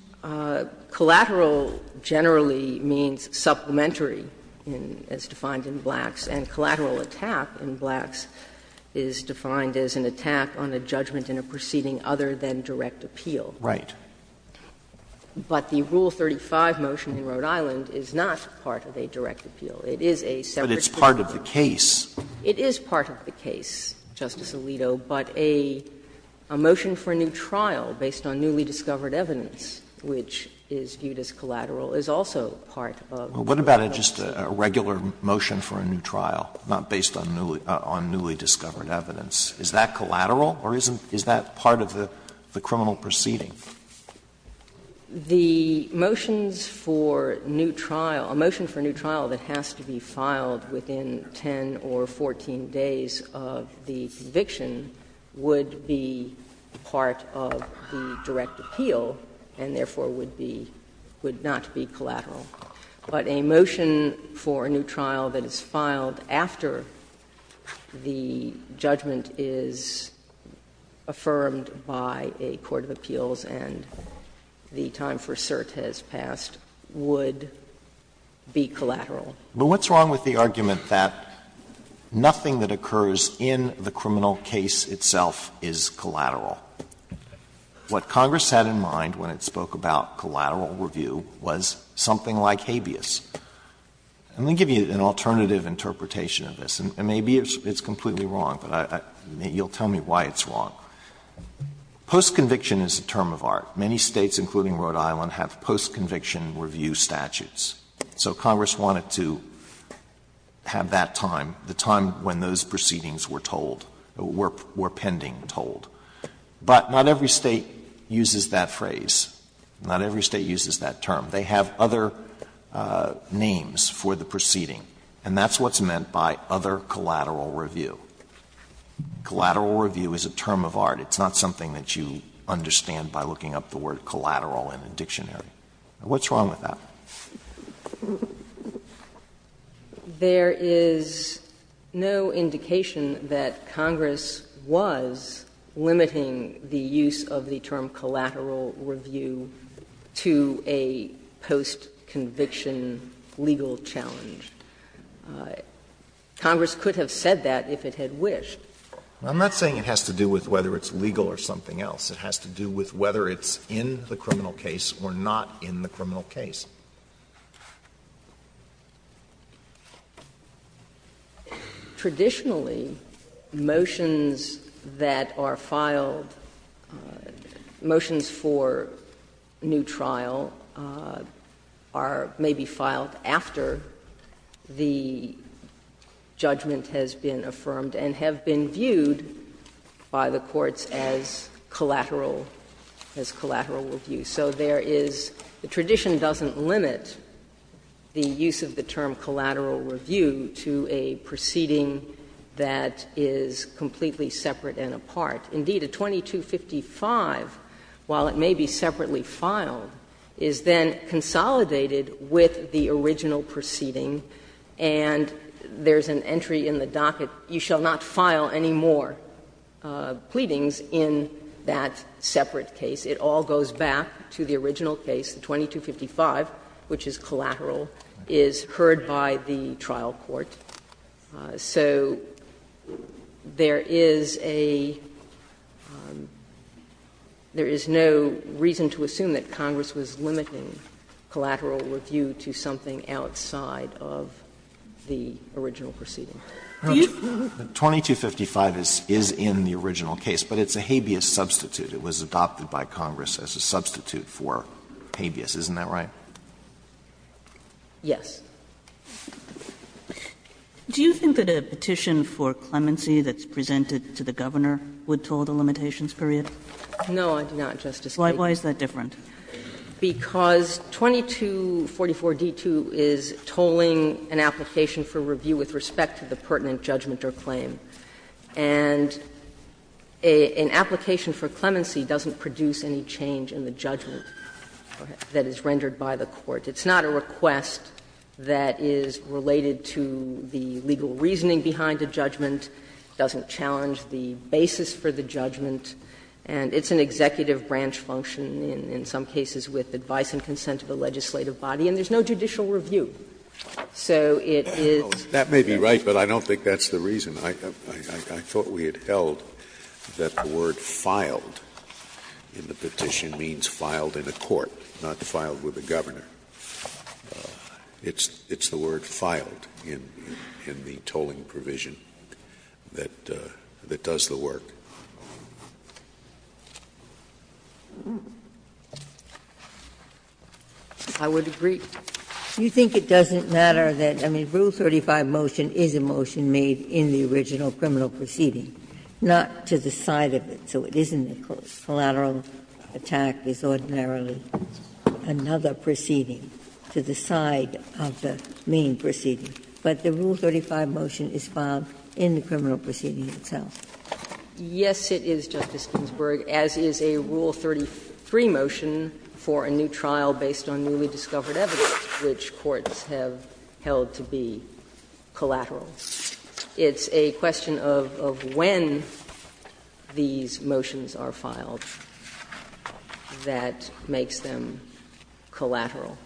Collateral generally means supplementary, as defined in Black's, and collateral attack in Black's is defined as an attack on a judgment in a proceeding other than direct appeal. Right. But the Rule 35 motion in Rhode Island is not part of a direct appeal. It is a separate case. But it's part of the case. It is part of the case, Justice Alito, but a motion for a new trial based on newly What about just a regular motion for a new trial, not based on newly discovered evidence? Is that collateral or is that part of the criminal proceeding? The motions for a new trial, a motion for a new trial that has to be filed within 10 or 14 days of the conviction would be part of the direct appeal and therefore would be — would not be collateral. But a motion for a new trial that is filed after the judgment is affirmed by a court of appeals and the time for cert has passed would be collateral. But what's wrong with the argument that nothing that occurs in the criminal case itself is collateral? What Congress had in mind when it spoke about collateral review was something like habeas. Let me give you an alternative interpretation of this. And maybe it's completely wrong, but I — you'll tell me why it's wrong. Postconviction is a term of art. Many States, including Rhode Island, have postconviction review statutes. So Congress wanted to have that time, the time when those proceedings were told, were pending told. But not every State uses that phrase. Not every State uses that term. They have other names for the proceeding. And that's what's meant by other collateral review. Collateral review is a term of art. It's not something that you understand by looking up the word collateral in a dictionary. What's wrong with that? There is no indication that Congress was limiting the use of the term collateral review to a postconviction legal challenge. Congress could have said that if it had wished. I'm not saying it has to do with whether it's legal or something else. It has to do with whether it's in the criminal case or not in the criminal case. Traditionally, motions that are filed, motions for new trial are maybe filed after the judgment has been affirmed and have been viewed by the courts as collateral, as collateral review. So there is, the tradition doesn't limit the use of the term collateral review to a proceeding that is completely separate and apart. Indeed, a 2255, while it may be separately filed, is then consolidated with the original proceeding and there's an entry in the docket, you shall not file any more pleadings in that separate case. It all goes back to the original case, the 2255, which is collateral, is heard by the trial court. So there is a, there is no reason to assume that Congress was limiting collateral review to something outside of the original proceeding. Do you? Alito, 2255 is in the original case, but it's a habeas substitute. It was adopted by Congress as a substitute for habeas. Isn't that right? Yes. Do you think that a petition for clemency that's presented to the Governor would toll the limitations period? No, I do not, Justice Kagan. Why is that different? Because 2244d2 is tolling an application for review with respect to the pertinent judgment or claim. And an application for clemency doesn't produce any change in the judgment that is rendered by the court. It's not a request that is related to the legal reasoning behind a judgment, doesn't challenge the basis for the judgment, and it's an executive branch function in some cases with advice and consent of the legislative body, and there's no judicial review. So it is. That may be right, but I don't think that's the reason. I thought we had held that the word ''filed'' in the petition means filed in a court, not filed with the Governor. It's the word ''filed'' in the tolling provision that does the work. I would agree. You think it doesn't matter that, I mean, Rule 35 motion is a motion made in the original criminal proceeding, not to the side of it, so it isn't a collateral attack as ordinarily another proceeding to the side of the main proceeding. But the Rule 35 motion is filed in the criminal proceeding itself. Yes, it is, Justice Ginsburg, as is a Rule 33 motion for a new trial based on newly discovered evidence, which courts have held to be collateral. It's a question of when these motions are filed that makes them collateral.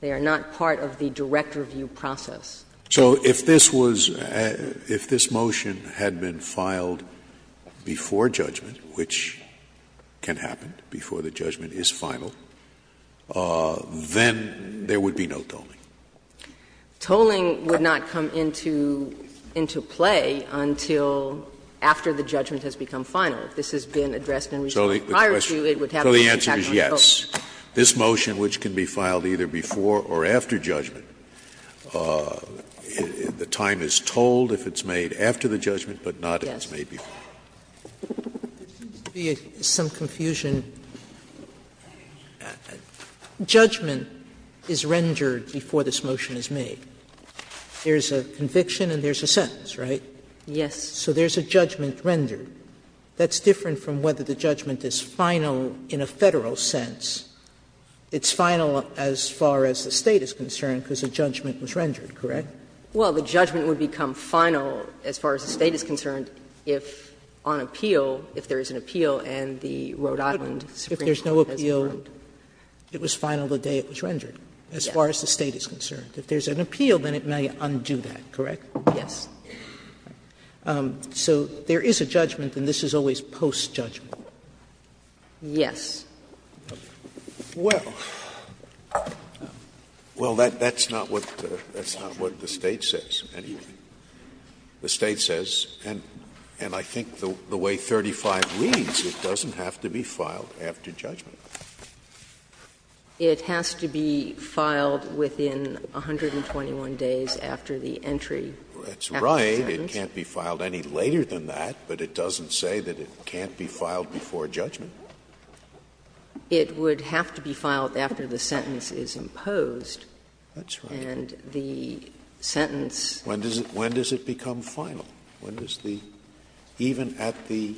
They are not part of the direct review process. So if this was — if this motion had been filed before judgment, which can happen before the judgment is final, then there would be no tolling. Tolling would not come into play until after the judgment has become final. If this has been addressed in return prior to, it would have a motion to act on tolling. So the answer is yes. This motion, which can be filed either before or after judgment, the time is tolled if it's made after the judgment, but not if it's made before. Sotomayor, there seems to be some confusion. Judgment is rendered before this motion is made. There's a conviction and there's a sentence, right? Yes. So there's a judgment rendered. That's different from whether the judgment is final in a Federal sense. It's final as far as the State is concerned because the judgment was rendered, correct? Well, the judgment would become final as far as the State is concerned if on appeal, if there is an appeal and the Rhode Island Supreme Court has a vote. If there's no appeal, it was final the day it was rendered as far as the State is concerned. If there's an appeal, then it may undo that, correct? Yes. So there is a judgment and this is always post-judgment. Yes. Well, that's not what the State says. The State says, and I think the way 35 reads, it doesn't have to be filed after judgment. It has to be filed within 121 days after the entry. That's right. It can't be filed any later than that, but it doesn't say that it can't be filed before judgment. It would have to be filed after the sentence is imposed. That's right. And the sentence When does it become final? When does the even at the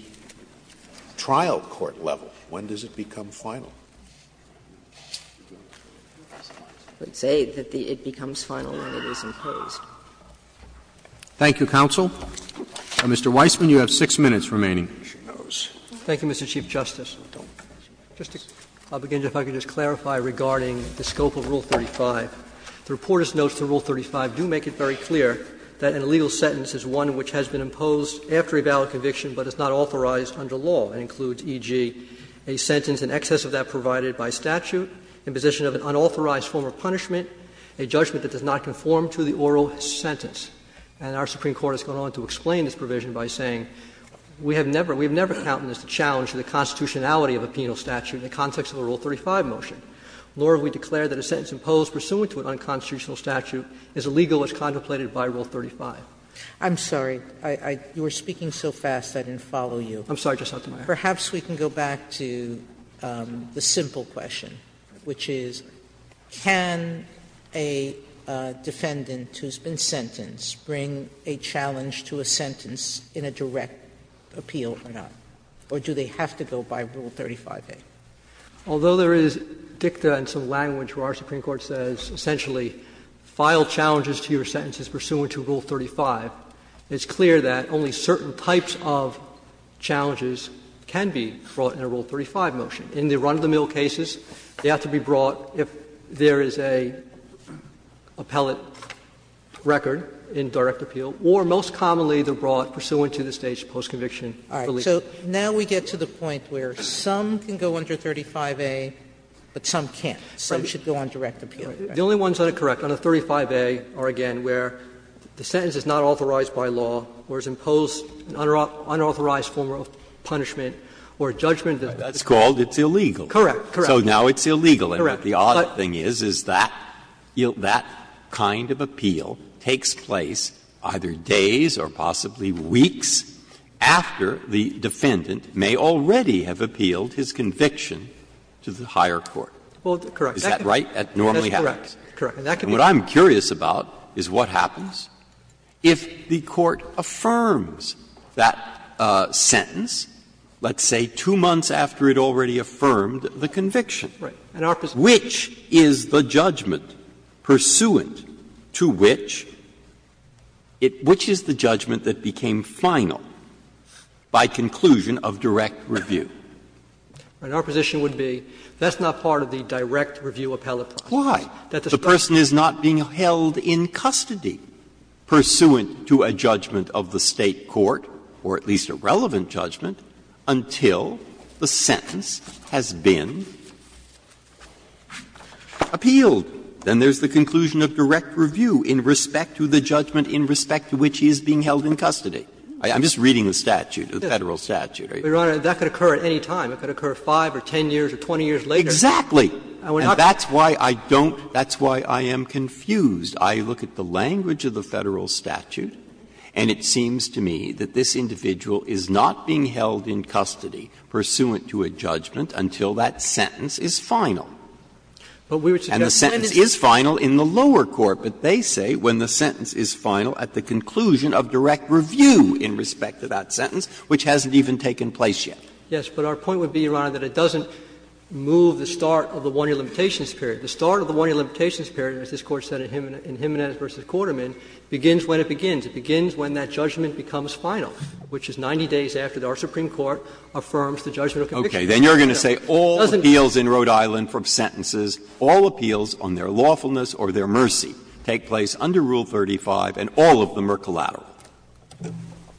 trial court level, when does it become final? It would say that it becomes final when it is imposed. Thank you, counsel. Mr. Weissman, you have 6 minutes remaining. Thank you, Mr. Chief Justice. Just to begin, if I could just clarify regarding the scope of Rule 35. The reporter's notes to Rule 35 do make it very clear that an illegal sentence is one which has been imposed after a valid conviction but is not authorized under law. It includes, e.g., a sentence in excess of that provided by statute, imposition of an unauthorized form of punishment, a judgment that does not conform to the oral sentence. And our Supreme Court has gone on to explain this provision by saying we have never encountered this challenge to the constitutionality of a penal statute in the context of a Rule 35 motion, nor have we declared that a sentence imposed pursuant to an unconstitutional statute is illegal as contemplated by Rule 35. I'm sorry. You were speaking so fast I didn't follow you. I'm sorry. Just not to my ear. Perhaps we can go back to the simple question, which is, can a defendant who has been convicted of an unconstitutional statute have to go by Rule 35-A or not, or do they have to go by Rule 35-A? Although there is dicta and some language where our Supreme Court says essentially file challenges to your sentences pursuant to Rule 35, it's clear that only certain types of challenges can be brought in a Rule 35 motion. In the run-of-the-mill cases, they have to be brought if there is an appellate record in direct appeal, or most commonly they are brought pursuant to the State's post-conviction relief. Sotomayor So now we get to the point where some can go under 35-A, but some can't. Some should go on direct appeal. Verrilli, The only ones that are correct under 35-A are, again, where the sentence is not authorized by law, or is imposed an unauthorized form of punishment, or a judgment that's called illegal. Sotomayor Correct. Correct. Breyer So now it's illegal. Sotomayor Correct. Breyer So what happens is that that kind of appeal takes place either days or possibly weeks after the defendant may already have appealed his conviction to the higher court. Sotomayor Correct. Breyer Is that right? That normally happens? Sotomayor That's correct. Correct. Breyer And what I'm curious about is what happens if the Court affirms that sentence, let's say two months after it already affirmed the conviction? Sotomayor Right. Breyer Which is the judgment pursuant to which? Which is the judgment that became final by conclusion of direct review? Sotomayor Right. Our position would be that's not part of the direct review appellate process. Breyer Why? The person is not being held in custody pursuant to a judgment of the State court, or at least a relevant judgment, until the sentence has been appealed. Then there's the conclusion of direct review in respect to the judgment in respect to which he is being held in custody. I'm just reading the statute, the Federal statute. Sotomayor Your Honor, that could occur at any time. It could occur 5 or 10 years or 20 years later. Breyer Exactly. And that's why I don't – that's why I am confused. I look at the language of the Federal statute, and it seems to me that this individual is not being held in custody pursuant to a judgment until that sentence is final. And the sentence is final in the lower court, but they say when the sentence is final at the conclusion of direct review in respect to that sentence, which hasn't even taken place yet. Sotomayor Yes, but our point would be, Your Honor, that it doesn't move the start of the 1-year limitations period. The start of the 1-year limitations period, as this Court said in Jimenez v. Quarterman, begins when it begins. It begins when that judgment becomes final, which is 90 days after our Supreme Court affirms the judgment of conviction. Breyer Okay. Then you are going to say all appeals in Rhode Island from sentences, all appeals on their lawfulness or their mercy take place under Rule 35 and all of them are collateral.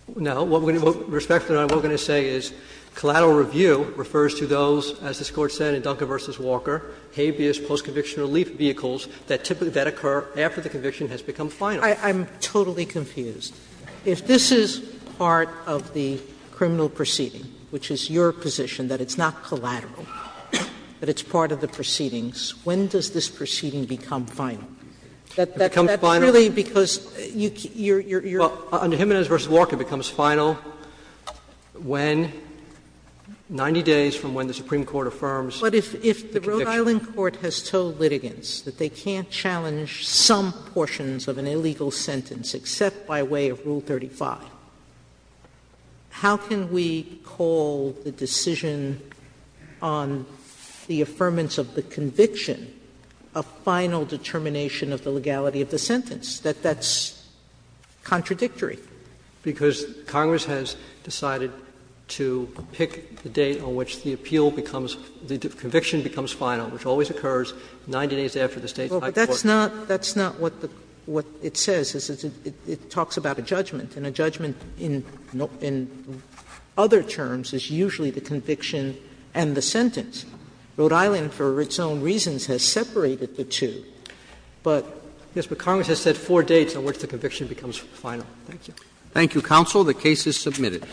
Sotomayor No. Respectfully, Your Honor, what we are going to say is collateral review refers to those, as this Court said in Dunker v. Walker, habeas post-conviction relief vehicles that typically occur after the conviction has become final. Sotomayor I'm totally confused. If this is part of the criminal proceeding, which is your position that it's not collateral, that it's part of the proceedings, when does this proceeding become final? That's really because you're you're you're Breyer Under Jimenez v. Walker, it becomes final when, 90 days from when the Supreme Court affirms the conviction. Sotomayor But if the Rhode Island court has told litigants that they can't challenge some portions of an illegal sentence except by way of Rule 35, how can we call the decision on the affirmance of the conviction a final determination of the legality of the sentence, that that's contradictory? Breyer Because Congress has decided to pick the date on which the appeal becomes the conviction becomes final, which always occurs 90 days after the State's high Sotomayor Well, but that's not that's not what the what it says. It talks about a judgment, and a judgment in other terms is usually the conviction and the sentence. Rhode Island, for its own reasons, has separated the two, but Congress has set four dates on which the conviction becomes final. Roberts Thank you, counsel. The case is submitted.